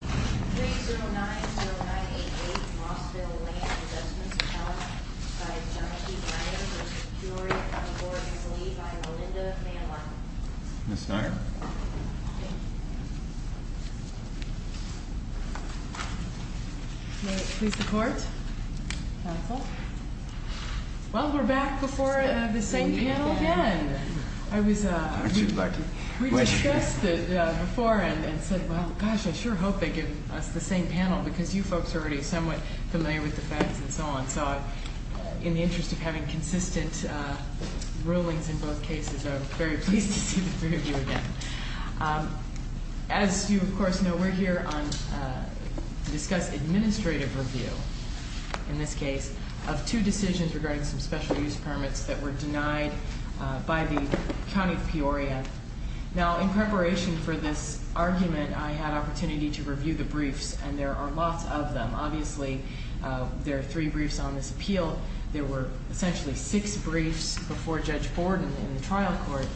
3-09-0988 Rossville Land Investments Accounts v. John P. Peoria County Board is lead by Rolinda VanLine In the interest of having consistent rulings in both cases, I'm very pleased to see the three of you again. As you of course know, we're here to discuss administrative review, in this case, of two decisions regarding some special use permits that were denied by the County of Peoria. Now, in preparation for this argument, I had an opportunity to review the briefs, and there are lots of them. Obviously, there are three briefs on this appeal. There were essentially six briefs before Judge Borden in the trial court,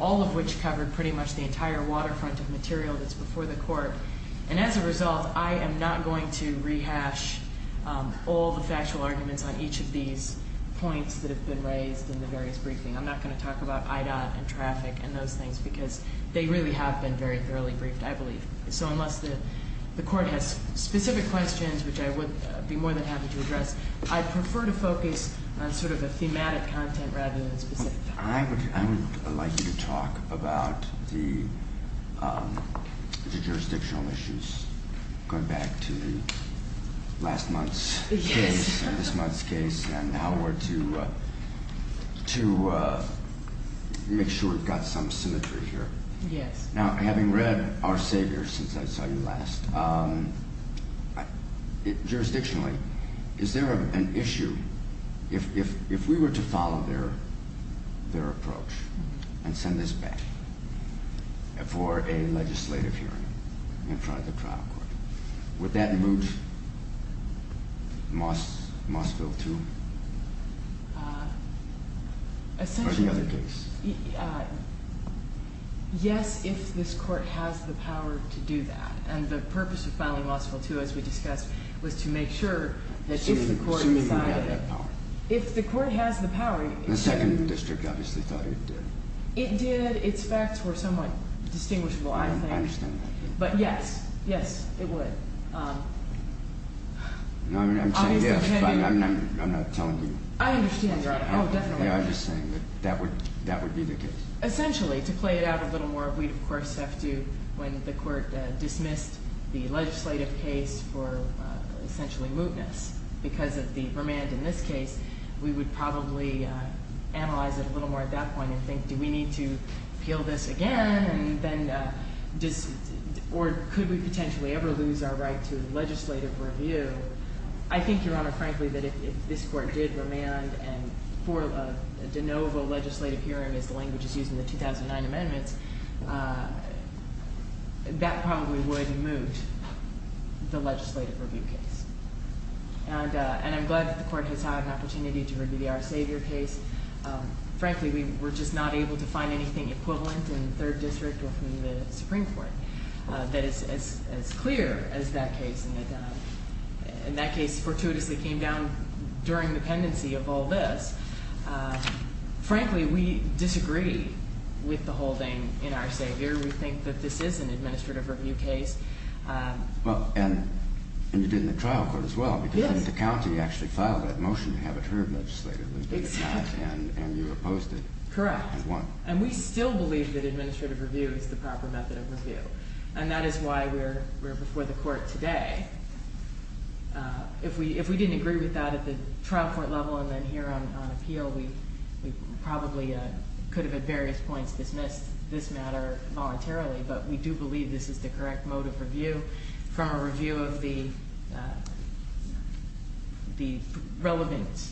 all of which covered pretty much the entire waterfront of material that's before the court. And as a result, I am not going to rehash all the factual arguments on each of these points that have been raised in the various briefings. I'm not going to talk about IDOT and traffic and those things, because they really have been very thoroughly briefed, I believe. So unless the court has specific questions, which I would be more than happy to address, I prefer to focus on sort of a thematic content rather than a specific topic. I would like you to talk about the jurisdictional issues, going back to last month's case and this month's case, and how we're to make sure we've got some symmetry here. Yes. Now, having read Our Savior since I saw you last, jurisdictionally, is there an issue? If we were to follow their approach and send this back for a legislative hearing in front of the trial court, would that move Mossville to the other case? Essentially, yes, if this court has the power to do that. And the purpose of filing Mossville 2, as we discussed, was to make sure that if the court decided it. Assuming we have that power. If the court has the power. The second district obviously thought it did. It did. Its facts were somewhat distinguishable, I think. I understand that. But yes. Yes, it would. I'm not telling you. I understand, Your Honor. Oh, definitely. I'm just saying that that would be the case. Essentially, to play it out a little more, we'd of course have to, when the court dismissed the legislative case for essentially mootness, because of the remand in this case, we would probably analyze it a little more at that point and think, do we need to appeal this again? Or could we potentially ever lose our right to legislative review? I think, Your Honor, frankly, that if this court did remand for a de novo legislative hearing, as the language is used in the 2009 amendments, that probably would moot the legislative review case. And I'm glad that the court has had an opportunity to review the Our Savior case. Frankly, we were just not able to find anything equivalent in the third district or from the Supreme Court that is as clear as that case. And that case fortuitously came down during the pendency of all this. Frankly, we disagree with the holding in Our Savior. We think that this is an administrative review case. Well, and you did it in the trial court as well. Yes. But the county actually filed that motion to have it heard legislatively. Exactly. And you opposed it. Correct. And won. And we still believe that administrative review is the proper method of review. And that is why we're before the court today. If we didn't agree with that at the trial court level and then here on appeal, we probably could have at various points dismissed this matter voluntarily. But we do believe this is the correct mode of review from a review of the relevant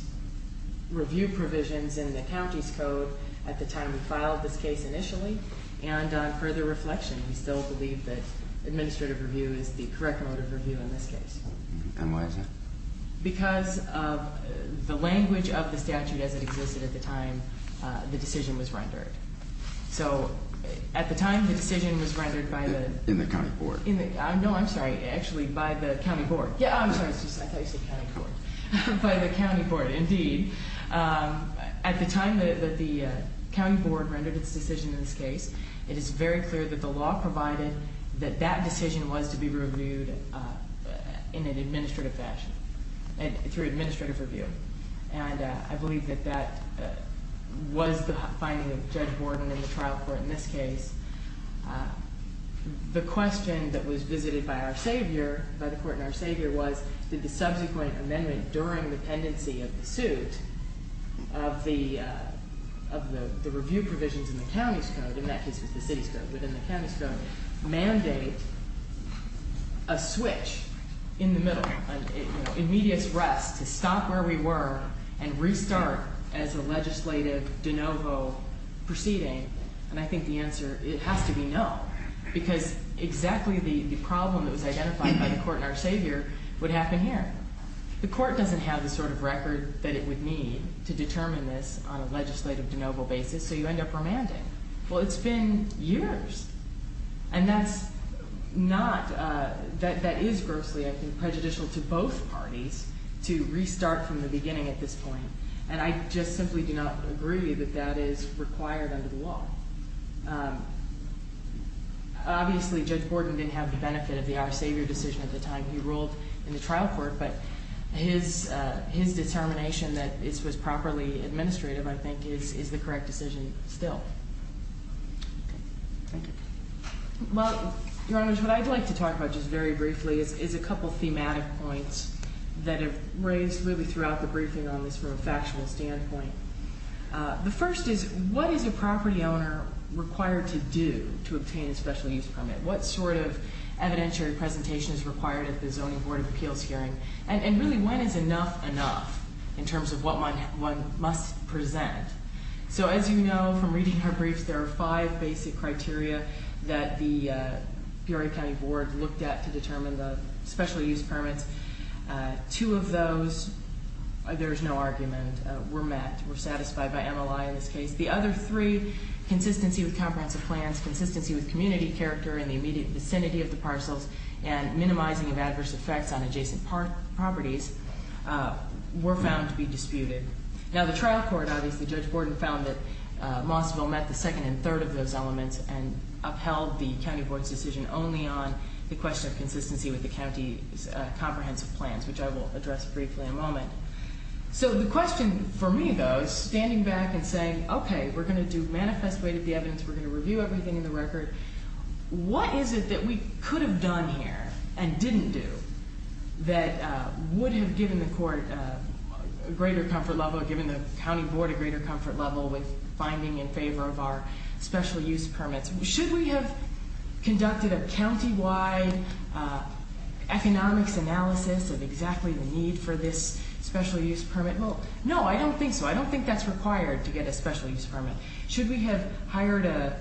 review provisions in the county's code at the time we filed this case initially. And on further reflection, we still believe that administrative review is the correct mode of review in this case. And why is that? Because of the language of the statute as it existed at the time the decision was rendered. So at the time the decision was rendered by the – In the county board. No, I'm sorry. Actually, by the county board. Yeah, I'm sorry. I thought you said county board. By the county board, indeed. At the time that the county board rendered its decision in this case, it is very clear that the law provided that that decision was to be reviewed in an administrative fashion through administrative review. And I believe that that was the finding of Judge Borden in the trial court in this case. The question that was visited by our savior, by the court and our savior, was did the subsequent amendment during the pendency of the suit of the review provisions in the county's code, in that case it was the city's code, within the county's code, mandate a switch in the middle, an immediate rest to stop where we were and restart as a legislative de novo proceeding. And I think the answer, it has to be no. Because exactly the problem that was identified by the court and our savior would happen here. The court doesn't have the sort of record that it would need to determine this on a legislative de novo basis, so you end up remanding. Well, it's been years. And that's not, that is grossly, I think, prejudicial to both parties to restart from the beginning at this point. And I just simply do not agree that that is required under the law. Obviously, Judge Borden didn't have the benefit of the our savior decision at the time he ruled in the trial court, but his determination that this was properly administrative, I think, is the correct decision still. Okay. Thank you. Well, Your Honors, what I'd like to talk about just very briefly is a couple thematic points that have raised really throughout the briefing on this from a factual standpoint. The first is, what is a property owner required to do to obtain a special use permit? What sort of evidentiary presentation is required at the Zoning Board of Appeals hearing? And really, when is enough enough in terms of what one must present? So as you know from reading our briefs, there are five basic criteria that the Peoria County Board looked at to determine the special use permits. Two of those, there's no argument, were met, were satisfied by MLI in this case. The other three, consistency with comprehensive plans, consistency with community character in the immediate vicinity of the parcels, and minimizing of adverse effects on adjacent properties, were found to be disputed. Now, the trial court, obviously, Judge Borden found that Mossville met the second and third of those elements and upheld the county board's decision only on the question of consistency with the county's comprehensive plans, which I will address briefly in a moment. So the question for me, though, is standing back and saying, okay, we're going to do manifest weight of the evidence, we're going to review everything in the record. What is it that we could have done here and didn't do that would have given the court a greater comfort level, given the county board a greater comfort level with finding in favor of our special use permits? Should we have conducted a countywide economics analysis of exactly the need for this special use permit? Well, no, I don't think so. I don't think that's required to get a special use permit. Should we have hired an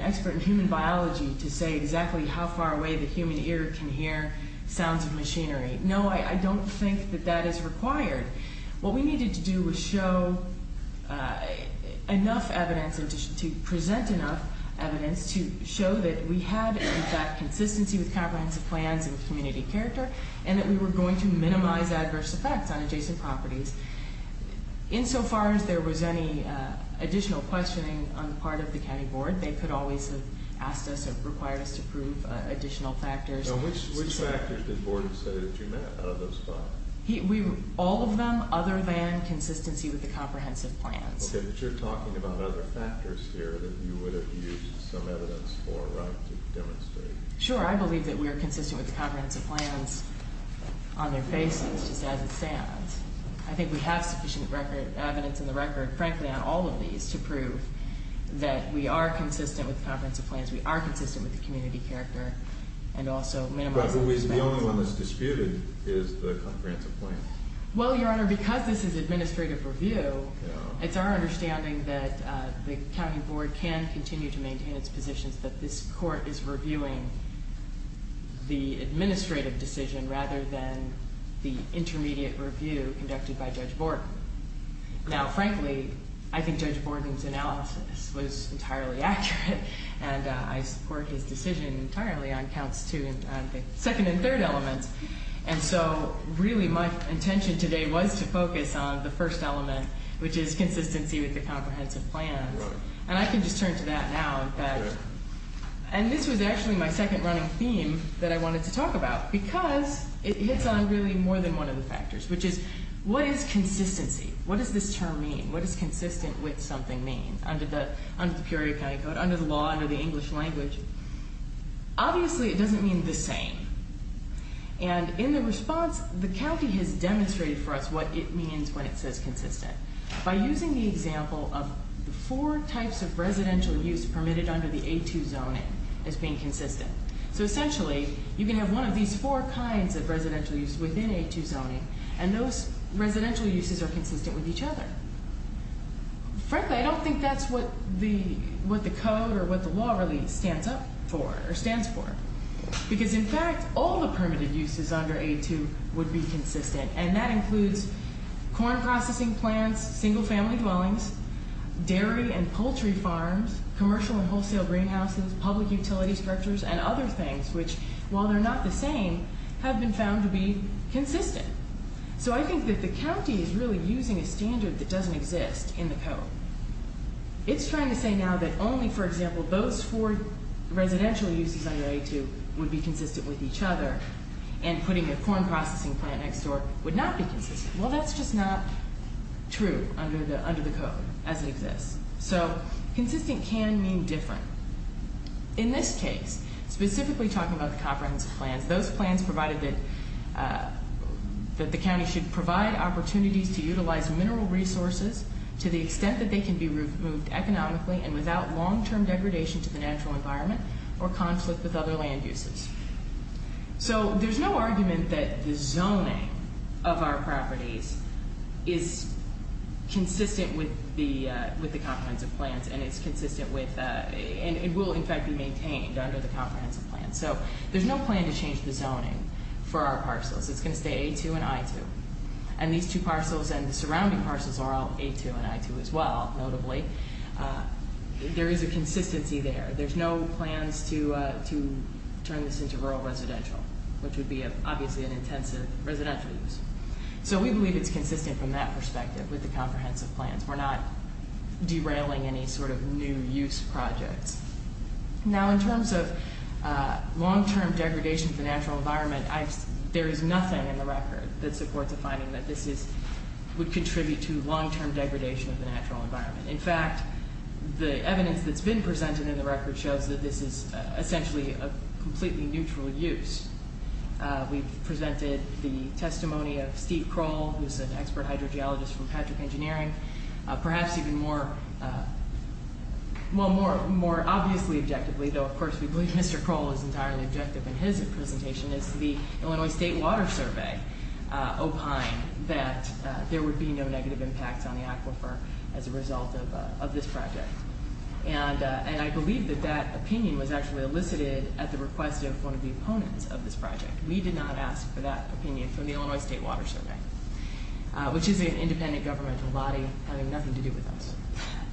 expert in human biology to say exactly how far away the human ear can hear sounds of machinery? No, I don't think that that is required. What we needed to do was show enough evidence to present enough evidence to show that we had, in fact, consistency with comprehensive plans and community character and that we were going to minimize adverse effects on adjacent properties. Insofar as there was any additional questioning on the part of the county board, they could always have asked us or required us to prove additional factors. So which factors did Gordon say that you met out of those five? All of them other than consistency with the comprehensive plans. Okay, but you're talking about other factors here that you would have used some evidence for, right, to demonstrate. Sure. I believe that we are consistent with the comprehensive plans on their basis, just as it stands. I think we have sufficient evidence in the record, frankly, on all of these to prove that we are consistent with the comprehensive plans, we are consistent with the community character, and also minimize adverse effects. The only one that's disputed is the comprehensive plan. Well, Your Honor, because this is administrative review, it's our understanding that the county board can continue to maintain its positions, but this court is reviewing the administrative decision rather than the intermediate review conducted by Judge Borden. Now, frankly, I think Judge Borden's analysis was entirely accurate, and I support his decision entirely on counts two and the second and third elements, and so really my intention today was to focus on the first element, which is consistency with the comprehensive plans. And I can just turn to that now. And this was actually my second running theme that I wanted to talk about because it hits on really more than one of the factors, which is what is consistency? What does this term mean? What does consistent with something mean? Under the Peoria County Code, under the law, under the English language, obviously it doesn't mean the same. And in the response, the county has demonstrated for us what it means when it says consistent by using the example of the four types of residential use permitted under the A2 zoning as being consistent. So essentially, you can have one of these four kinds of residential use within A2 zoning, and those residential uses are consistent with each other. Frankly, I don't think that's what the code or what the law really stands up for or stands for because, in fact, all the permitted uses under A2 would be consistent, and that includes corn processing plants, single-family dwellings, dairy and poultry farms, commercial and wholesale greenhouses, public utilities structures, and other things, which, while they're not the same, have been found to be consistent. So I think that the county is really using a standard that doesn't exist in the code. It's trying to say now that only, for example, those four residential uses under A2 would be consistent with each other and putting a corn processing plant next door would not be consistent. Well, that's just not true under the code as it exists. So consistent can mean different. In this case, specifically talking about the comprehensive plans, those plans provided that the county should provide opportunities to utilize mineral resources to the extent that they can be removed economically and without long-term degradation to the natural environment or conflict with other land uses. So there's no argument that the zoning of our properties is consistent with the comprehensive plans and it will, in fact, be maintained under the comprehensive plans. So there's no plan to change the zoning for our parcels. It's going to stay A2 and I2. And these two parcels and the surrounding parcels are all A2 and I2 as well, notably. There is a consistency there. There's no plans to turn this into rural residential, which would be, obviously, an intensive residential use. So we believe it's consistent from that perspective with the comprehensive plans. We're not derailing any sort of new use projects. Now, in terms of long-term degradation of the natural environment, there is nothing in the record that supports a finding that this would contribute to long-term degradation of the natural environment. In fact, the evidence that's been presented in the record shows that this is essentially a completely neutral use. We've presented the testimony of Steve Kroll, who's an expert hydrogeologist from Patrick Engineering, perhaps even more, well, more obviously objectively, though of course we believe Mr. Kroll is entirely objective in his presentation, is the Illinois State Water Survey opined that there would be no negative impacts on the aquifer as a result of this project. And I believe that that opinion was actually elicited at the request of one of the opponents of this project. We did not ask for that opinion from the Illinois State Water Survey, which is an independent governmental body having nothing to do with us.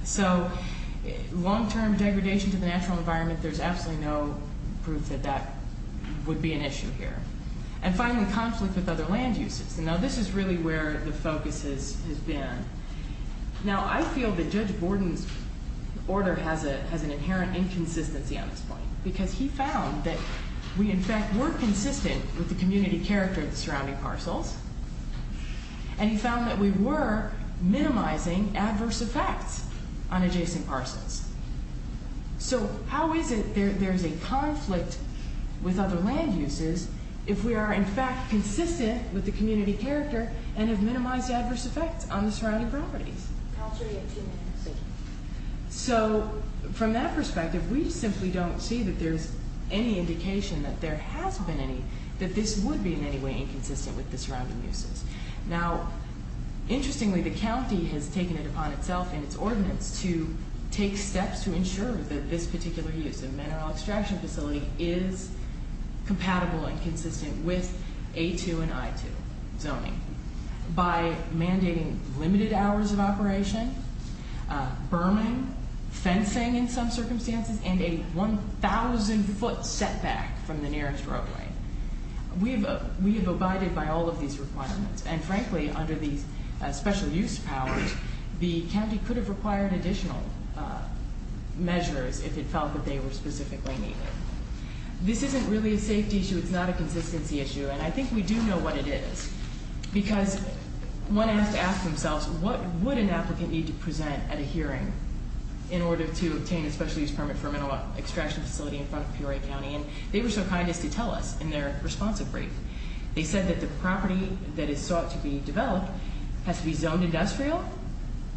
So long-term degradation to the natural environment, there's absolutely no proof that that would be an issue here. And finally, conflict with other land uses. Now, this is really where the focus has been. Now, I feel that Judge Borden's order has an inherent inconsistency on this point because he found that we in fact were consistent with the community character of the surrounding parcels and he found that we were minimizing adverse effects on adjacent parcels. So how is it there's a conflict with other land uses if we are in fact consistent with the community character and have minimized adverse effects on the surrounding properties? So from that perspective, we simply don't see that there's any indication that there has been any, that this would be in any way inconsistent with the surrounding uses. Now, interestingly, the county has taken it upon itself in its ordinance to take steps to ensure that this particular use of mineral extraction facility is compatible and consistent with A2 and I2 zoning by mandating limited hours of operation, burning, fencing in some circumstances, and a 1,000-foot setback from the nearest roadway. We have abided by all of these requirements. And frankly, under these special use powers, the county could have required additional measures if it felt that they were specifically needed. This isn't really a safety issue. It's not a consistency issue, and I think we do know what it is because one has to ask themselves, what would an applicant need to present at a hearing in order to obtain a special use permit for a mineral extraction facility in front of Peoria County? And they were so kind as to tell us in their responsive brief. They said that the property that is sought to be developed has to be zoned industrial,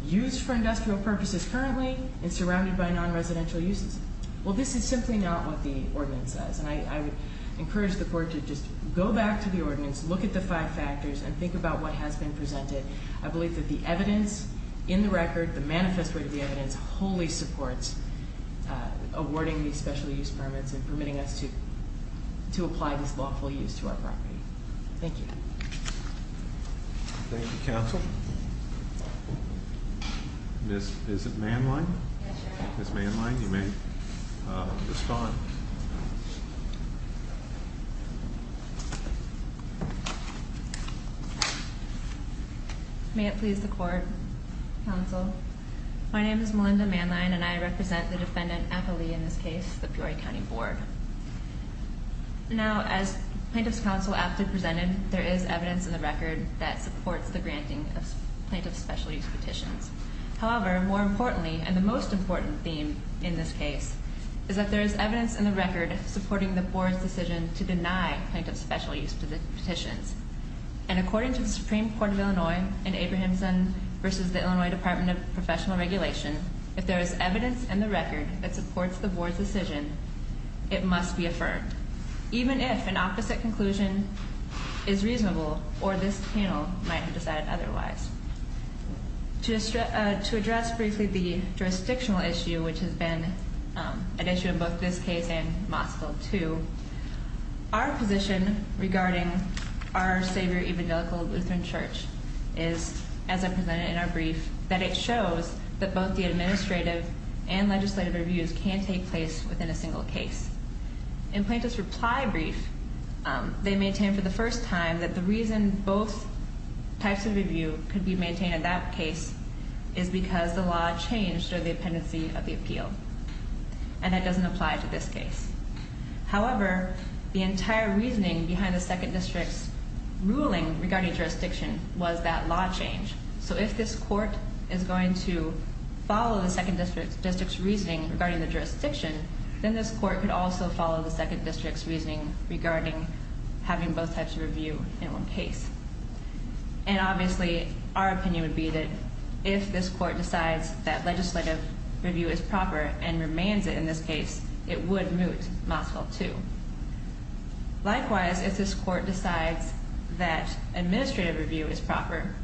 used for industrial purposes currently, and surrounded by non-residential uses. Well, this is simply not what the ordinance says. And I would encourage the court to just go back to the ordinance, look at the five factors, and think about what has been presented. I believe that the evidence in the record, the manifest way of the evidence, wholly supports awarding these special use permits and permitting us to apply this lawful use to our property. Thank you. Thank you, counsel. Is it Manline? Yes, Your Honor. Ms. Manline, you may respond. May it please the court, counsel. My name is Melinda Manline, and I represent the defendant, Apolli, in this case, the Peoria County Board. Now, as plaintiff's counsel aptly presented, there is evidence in the record that supports the granting of plaintiff's special use petitions. However, more importantly, and the most important theme in this case, is that there is evidence in the record supporting the board's decision to deny plaintiff's special use petitions. And according to the Supreme Court of Illinois in Abrahamson v. the Illinois Department of Professional Regulation, if there is evidence in the record that supports the board's decision, it must be affirmed, even if an opposite conclusion is reasonable or this panel might have decided otherwise. To address briefly the jurisdictional issue, which has been an issue in both this case and Moscow too, our position regarding our savior evangelical Lutheran Church is, as I presented in our brief, that it shows that both the administrative and legislative reviews can take place within a single case. In plaintiff's reply brief, they maintain for the first time that the reason both types of review could be maintained in that case is because the law changed under the appendix of the appeal. And that doesn't apply to this case. However, the entire reasoning behind the second district's ruling regarding jurisdiction was that law change. So if this court is going to follow the second district's reasoning regarding the jurisdiction, then this court could also follow the second district's reasoning regarding having both types of review in one case. And obviously, our opinion would be that if this court decides that legislative review is proper and remains it in this case, it would moot Moscow too. Likewise, if this court decides that administrative review is proper,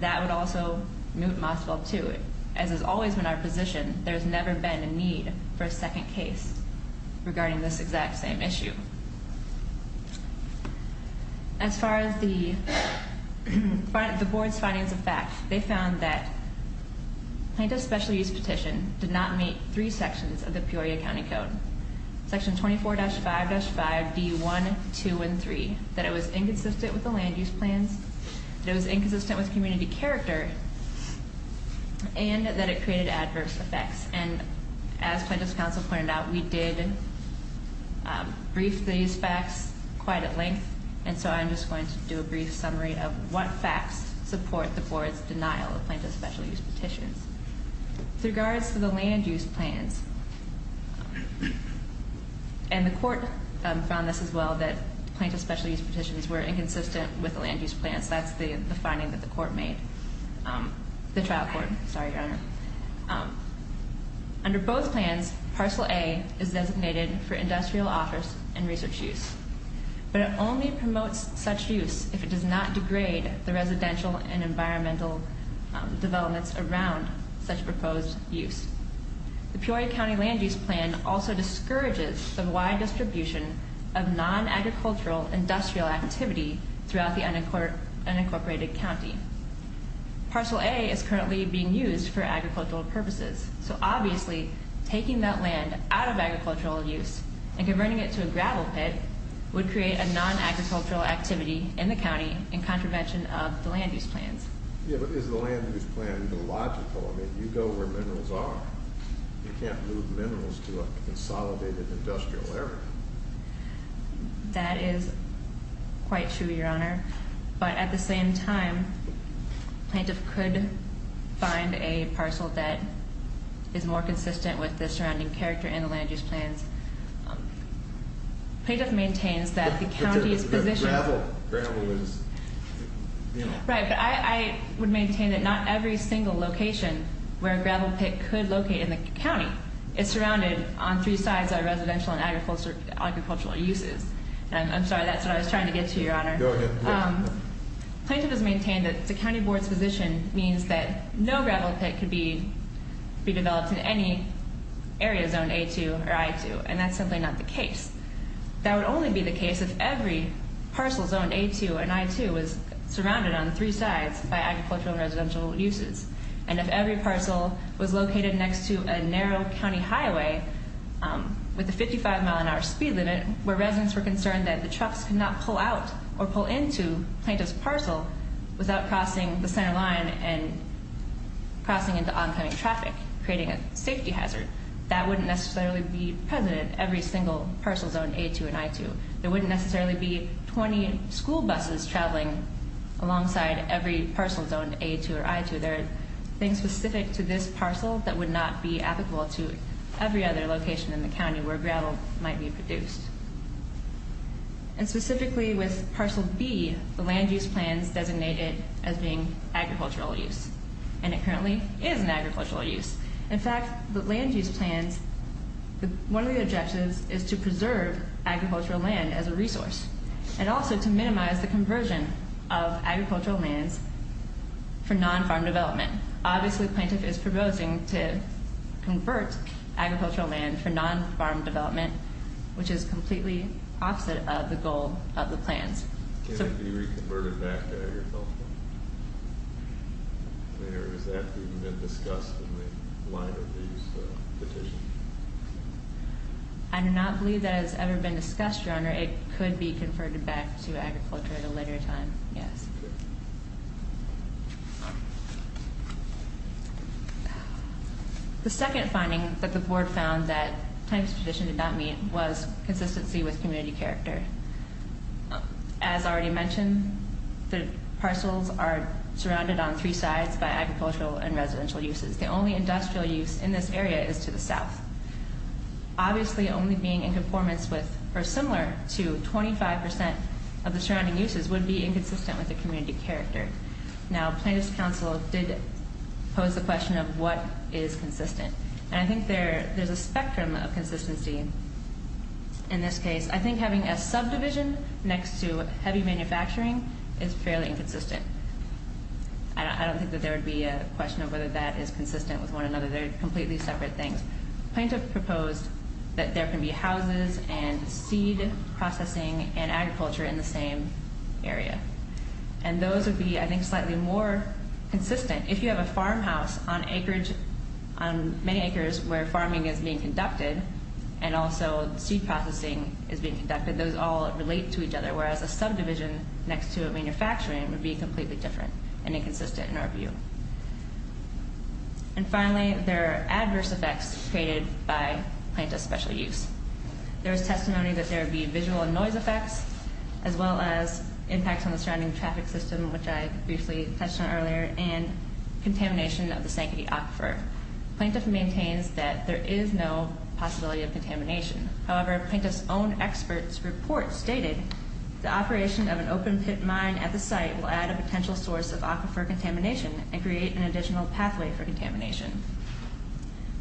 that would also moot Moscow too. As has always been our position, there's never been a need for a second case regarding this exact same issue. As far as the board's findings of fact, they found that plaintiff's special use petition did not meet three sections of the Peoria County Code. Section 24-5-5D1, 2, and 3. That it was inconsistent with the land use plans. That it was inconsistent with community character. And that it created adverse effects. And as plaintiff's counsel pointed out, we did brief these facts quite at length. And so I'm just going to do a brief summary of what facts support the board's denial of plaintiff's special use petitions. With regards to the land use plans, and the court found this as well, that plaintiff's special use petitions were inconsistent with the land use plans. That's the finding that the court made. The trial court. Sorry, Your Honor. Under both plans, Parcel A is designated for industrial office and research use. But it only promotes such use if it does not degrade the residential and environmental developments around such proposed use. The Peoria County land use plan also discourages the wide distribution of non-agricultural industrial activity throughout the unincorporated county. Parcel A is currently being used for agricultural purposes. So obviously, taking that land out of agricultural use and converting it to a gravel pit would create a non-agricultural activity in the county in contravention of the land use plans. Yeah, but is the land use plan illogical? I mean, you go where minerals are. You can't move minerals to a consolidated industrial area. That is quite true, Your Honor. But at the same time, plaintiff could find a parcel that is more consistent with the surrounding character in the land use plans. Plaintiff maintains that the county's position- But the gravel is, you know- Right, but I would maintain that not every single location where a gravel pit could locate in the county is surrounded on three sides by residential and agricultural uses. And I'm sorry, that's what I was trying to get to, Your Honor. Go ahead. Plaintiff has maintained that the county board's position means that no gravel pit could be developed in any area zoned A2 or I2, and that's simply not the case. That would only be the case if every parcel zoned A2 and I2 was surrounded on three sides by agricultural and residential uses. And if every parcel was located next to a narrow county highway with a 55 mile an hour speed limit, where residents were concerned that the trucks could not pull out or pull into plaintiff's parcel without crossing the center line and crossing into oncoming traffic, creating a safety hazard, that wouldn't necessarily be present in every single parcel zoned A2 and I2. There wouldn't necessarily be 20 school buses traveling alongside every parcel zoned A2 or I2. There are things specific to this parcel that would not be applicable to every other location in the county where gravel might be produced. And specifically with parcel B, the land use plans designate it as being agricultural use. And it currently is an agricultural use. In fact, the land use plans, one of the objectives is to preserve agricultural land as a resource, and also to minimize the conversion of agricultural lands for non-farm development. Obviously, plaintiff is proposing to convert agricultural land for non-farm development, which is completely opposite of the goal of the plans. Can it be reconverted back to agricultural? I mean, or is that being discussed in the line of these petitions? I do not believe that it's ever been discussed, Your Honor. It could be converted back to agriculture at a later time, yes. The second finding that the board found that plaintiff's petition did not meet was consistency with community character. As already mentioned, the parcels are surrounded on three sides by agricultural and residential uses. The only industrial use in this area is to the south. Obviously, only being in conformance with or similar to 25% of the surrounding uses would be inconsistent with the community character. Now, plaintiff's counsel did pose the question of what is consistent. And I think there's a spectrum of consistency in this case. I think having a subdivision next to heavy manufacturing is fairly inconsistent. I don't think that there would be a question of whether that is consistent with one another. They're completely separate things. Plaintiff proposed that there can be houses and seed processing and agriculture in the same area. And those would be, I think, slightly more consistent. If you have a farmhouse on acreage, on many acres where farming is being conducted and also seed processing is being conducted, those all relate to each other, whereas a subdivision next to a manufacturing would be completely different and inconsistent in our view. And finally, there are adverse effects created by plaintiff's special use. There is testimony that there would be visual and noise effects, as well as impacts on the surrounding traffic system, which I briefly touched on earlier, and contamination of the Sanctity Aquifer. Plaintiff maintains that there is no possibility of contamination. However, plaintiff's own expert's report stated, the operation of an open pit mine at the site will add a potential source of aquifer contamination and create an additional pathway for contamination.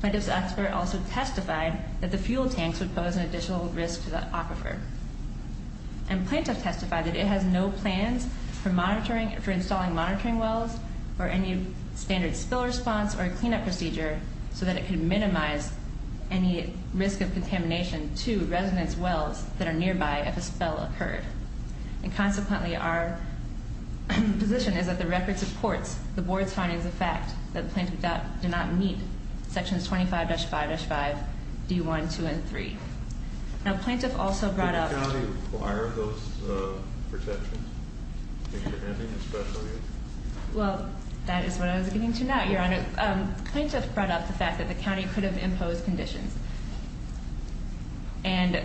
Plaintiff's expert also testified that the fuel tanks would pose an additional risk to the aquifer. And plaintiff testified that it has no plans for installing monitoring wells or any standard spill response or a cleanup procedure so that it can minimize any risk of contamination to residence wells that are nearby if a spill occurred. And consequently, our position is that the record supports the board's findings of fact that the plaintiff did not meet sections 25-5-5, D1, 2, and 3. Now, plaintiff also brought up- Did the county require those protections? If you're having a special use? Well, that is what I was getting to now, Your Honor. Plaintiff brought up the fact that the county could have imposed conditions. And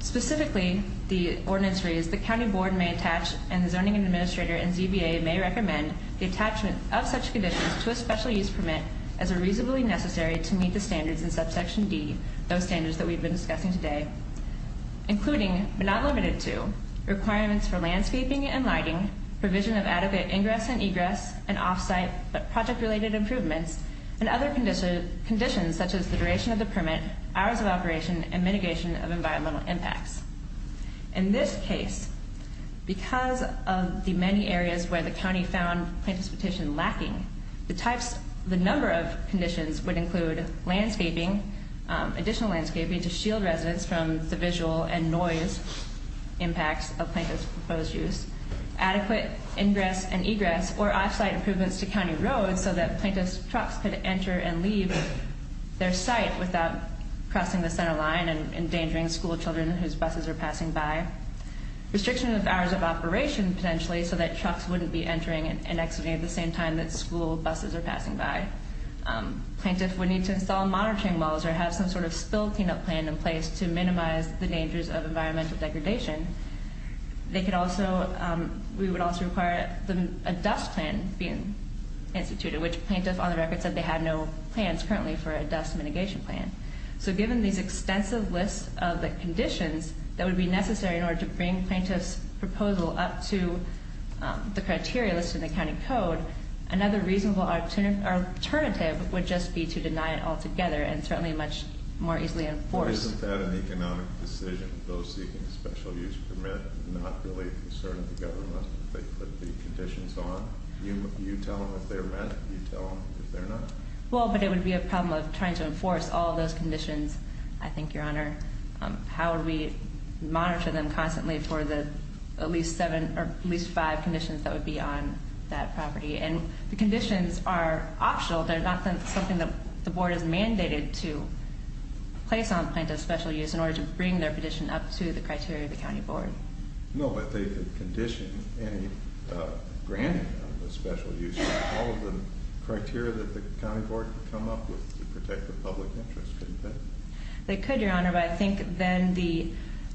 specifically, the ordinance reads, the county board may attach and the zoning administrator and ZBA may recommend the attachment of such conditions to a special use permit as are reasonably necessary to meet the standards in subsection D, those standards that we've been discussing today, including, but not limited to, requirements for landscaping and lighting, provision of adequate ingress and egress and off-site project-related improvements, and other conditions such as the duration of the permit, hours of operation, and mitigation of environmental impacts. In this case, because of the many areas where the county found plaintiff's petition lacking, the number of conditions would include landscaping, additional landscaping to shield residents from the visual and noise impacts of plaintiff's proposed use, adequate ingress and egress, or off-site improvements to county roads so that plaintiff's trucks could enter and leave their site without crossing the center line and endangering school children whose buses are passing by, restriction of hours of operation, potentially, so that trucks wouldn't be entering and exiting at the same time that school buses are passing by. Plaintiff would need to install monitoring walls or have some sort of spill cleanup plan in place to minimize the dangers of environmental degradation. They could also, we would also require a dust plan being instituted, which plaintiff on the record said they had no plans currently for a dust mitigation plan. So given these extensive lists of the conditions that would be necessary in order to bring plaintiff's proposal up to the criteria listed in the county code, another reasonable alternative would just be to deny it altogether and certainly much more easily enforce. Isn't that an economic decision, those seeking a special use permit, not really a concern of the government if they put the conditions on? You tell them if they're met, you tell them if they're not? Well, but it would be a problem of trying to enforce all those conditions, I think, Your Honor. How would we monitor them constantly for the at least seven or at least five conditions that would be on that property? And the conditions are optional. They're not something that the board is mandated to place on plaintiff's special use in order to bring their petition up to the criteria of the county board. No, but they could condition any granting of the special use. All of the criteria that the county board could come up with to protect the public interest, couldn't they? They could, Your Honor, but I think then the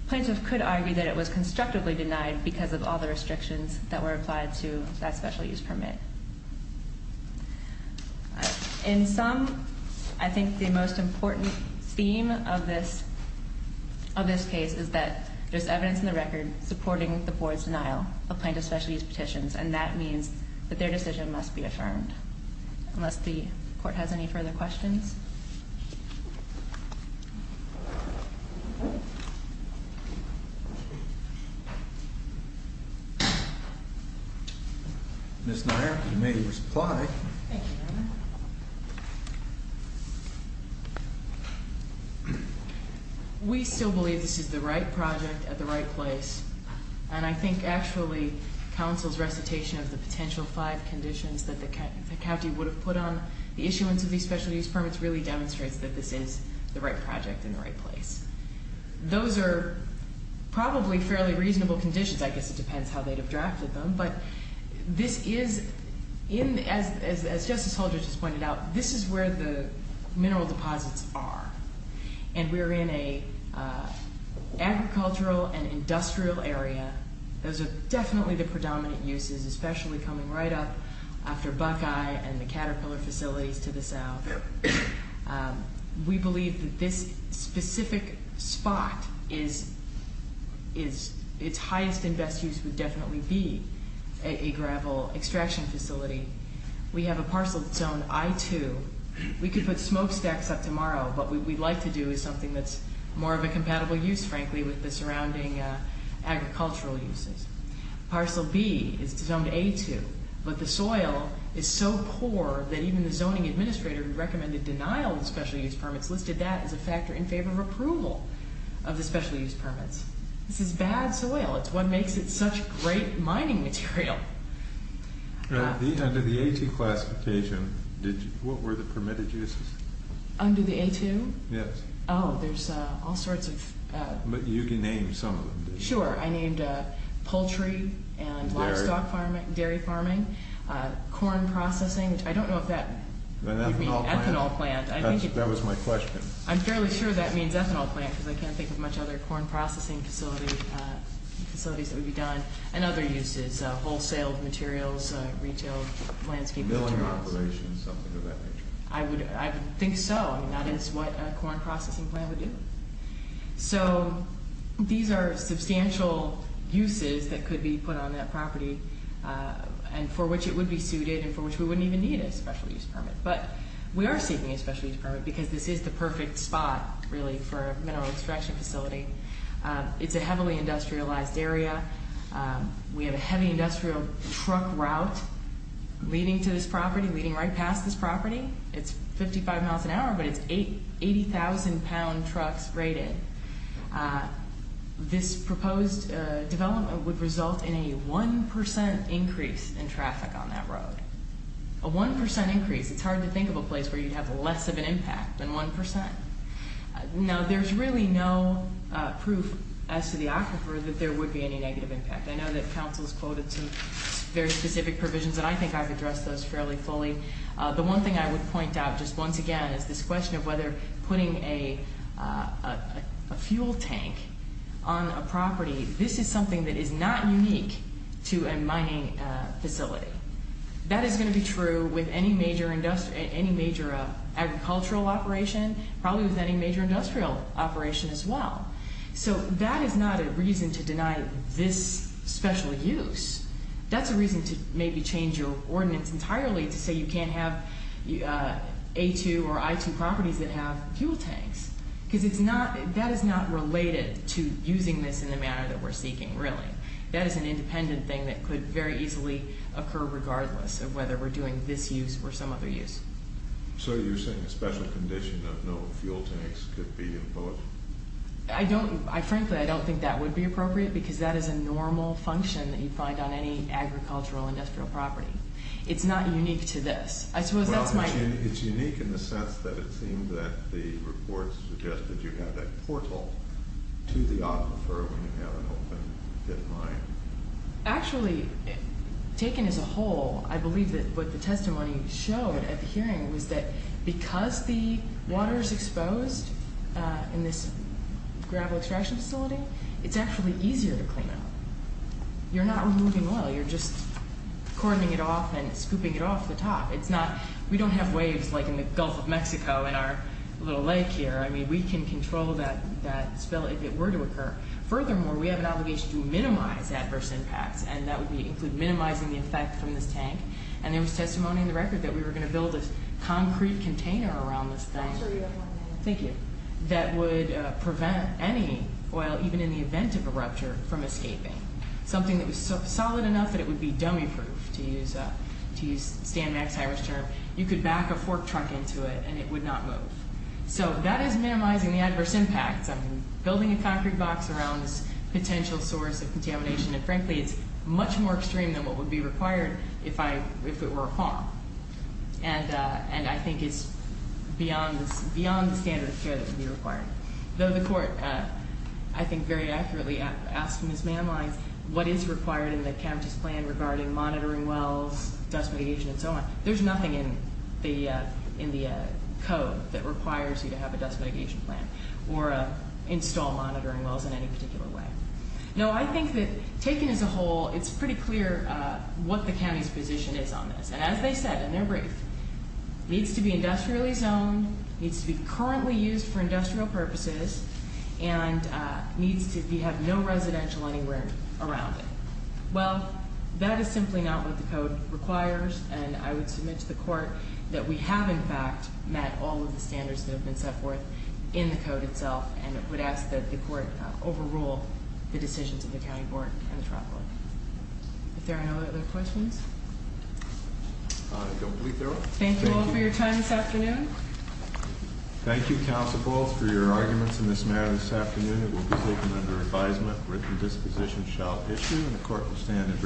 plaintiff could argue that it was constructively denied because of all the restrictions that were applied to that special use permit. In sum, I think the most important theme of this case is that there's evidence in the record supporting the board's denial of plaintiff's special use petitions, and that means that their decision must be affirmed. Unless the court has any further questions? Ms. Nair, you may reply. Thank you, Your Honor. We still believe this is the right project at the right place, and I think, actually, counsel's recitation of the potential five conditions that the county would have put on the issuance of these special use permits really demonstrates that this is the right project in the right place. Those are probably fairly reasonable conditions. I guess it depends how they'd have drafted them, but this is, as Justice Holdren just pointed out, this is where the mineral deposits are, and we're in an agricultural and industrial area. Those are definitely the predominant uses, especially coming right up after Buckeye and the Caterpillar facilities to the south. We believe that this specific spot, its highest and best use would definitely be a gravel extraction facility. We have a parcel zone I-2. We could put smokestacks up tomorrow, but what we'd like to do is something that's more of a compatible use, frankly, with the surrounding agricultural uses. Parcel B is zone A-2, but the soil is so poor that even the zoning administrator who recommended denial of special use permits listed that as a factor in favor of approval of the special use permits. This is bad soil. It's what makes it such great mining material. Under the A-2 classification, what were the permitted uses? Under the A-2? Yes. Oh, there's all sorts of... But you named some of them, didn't you? Sure. I named poultry and livestock farming, dairy farming, corn processing, which I don't know if that would mean ethanol plant. That was my question. I'm fairly sure that means ethanol plant because I can't think of much other corn processing facilities that would be done. And other uses, wholesale materials, retail, landscape materials. Milling operations, something of that nature. I would think so. That is what a corn processing plant would do. So these are substantial uses that could be put on that property and for which it would be suited and for which we wouldn't even need a special use permit. But we are seeking a special use permit because this is the perfect spot, really, for a mineral extraction facility. It's a heavily industrialized area. We have a heavy industrial truck route leading to this property, leading right past this property. It's 55 miles an hour, but it's 80,000-pound trucks rated. This proposed development would result in a 1% increase in traffic on that road. A 1% increase. It's hard to think of a place where you'd have less of an impact than 1%. Now, there's really no proof as to the aquifer that there would be any negative impact. I know that council has quoted some very specific provisions, and I think I've addressed those fairly fully. The one thing I would point out just once again is this question of whether putting a fuel tank on a property, this is something that is not unique to a mining facility. That is going to be true with any major agricultural operation, probably with any major industrial operation as well. So that is not a reason to deny this special use. That's a reason to maybe change your ordinance entirely to say you can't have A2 or I2 properties that have fuel tanks because that is not related to using this in the manner that we're seeking, really. That is an independent thing that could very easily occur regardless of whether we're doing this use or some other use. So you're saying a special condition of no fuel tanks could be imposed? Frankly, I don't think that would be appropriate because that is a normal function that you'd find on any agricultural industrial property. It's not unique to this. It's unique in the sense that it seemed that the report suggested you have that portal to the aquifer when you have an open pit mine. Actually, taken as a whole, I believe that what the testimony showed at the hearing was that because the water is exposed in this gravel extraction facility, it's actually easier to clean up. You're not removing oil. You're just cording it off and scooping it off the top. We don't have waves like in the Gulf of Mexico in our little lake here. I mean, we can control that spill if it were to occur. Furthermore, we have an obligation to minimize adverse impacts, and that would include minimizing the effect from this tank. And there was testimony in the record that we were going to build a concrete container around this tank that would prevent any oil, even in the event of a rupture, from escaping, something that was solid enough that it would be dummy-proof, to use Stan Mack's Irish term. You could back a fork truck into it, and it would not move. So that is minimizing the adverse impacts of building a concrete box around this potential source of contamination. And frankly, it's much more extreme than what would be required if it were a farm. And I think it's beyond the standard of care that would be required. Though the court, I think, very accurately asked Ms. Manline what is required in the county's plan regarding monitoring wells, dust mitigation, and so on. There's nothing in the code that requires you to have a dust mitigation plan or install monitoring wells in any particular way. Now, I think that taken as a whole, it's pretty clear what the county's position is on this. And as they said in their brief, needs to be industrially zoned, needs to be currently used for industrial purposes, and needs to have no residential anywhere around it. Well, that is simply not what the code requires. And I would submit to the court that we have, in fact, met all of the standards that have been set forth in the code itself. And I would ask that the court overrule the decisions of the county board and the trial board. If there are no other questions. I don't believe there are. Thank you all for your time this afternoon. Thank you, Council Paul, for your arguments in this matter this afternoon. It will be taken under advisement. Written disposition shall issue, and the court will stand in brief.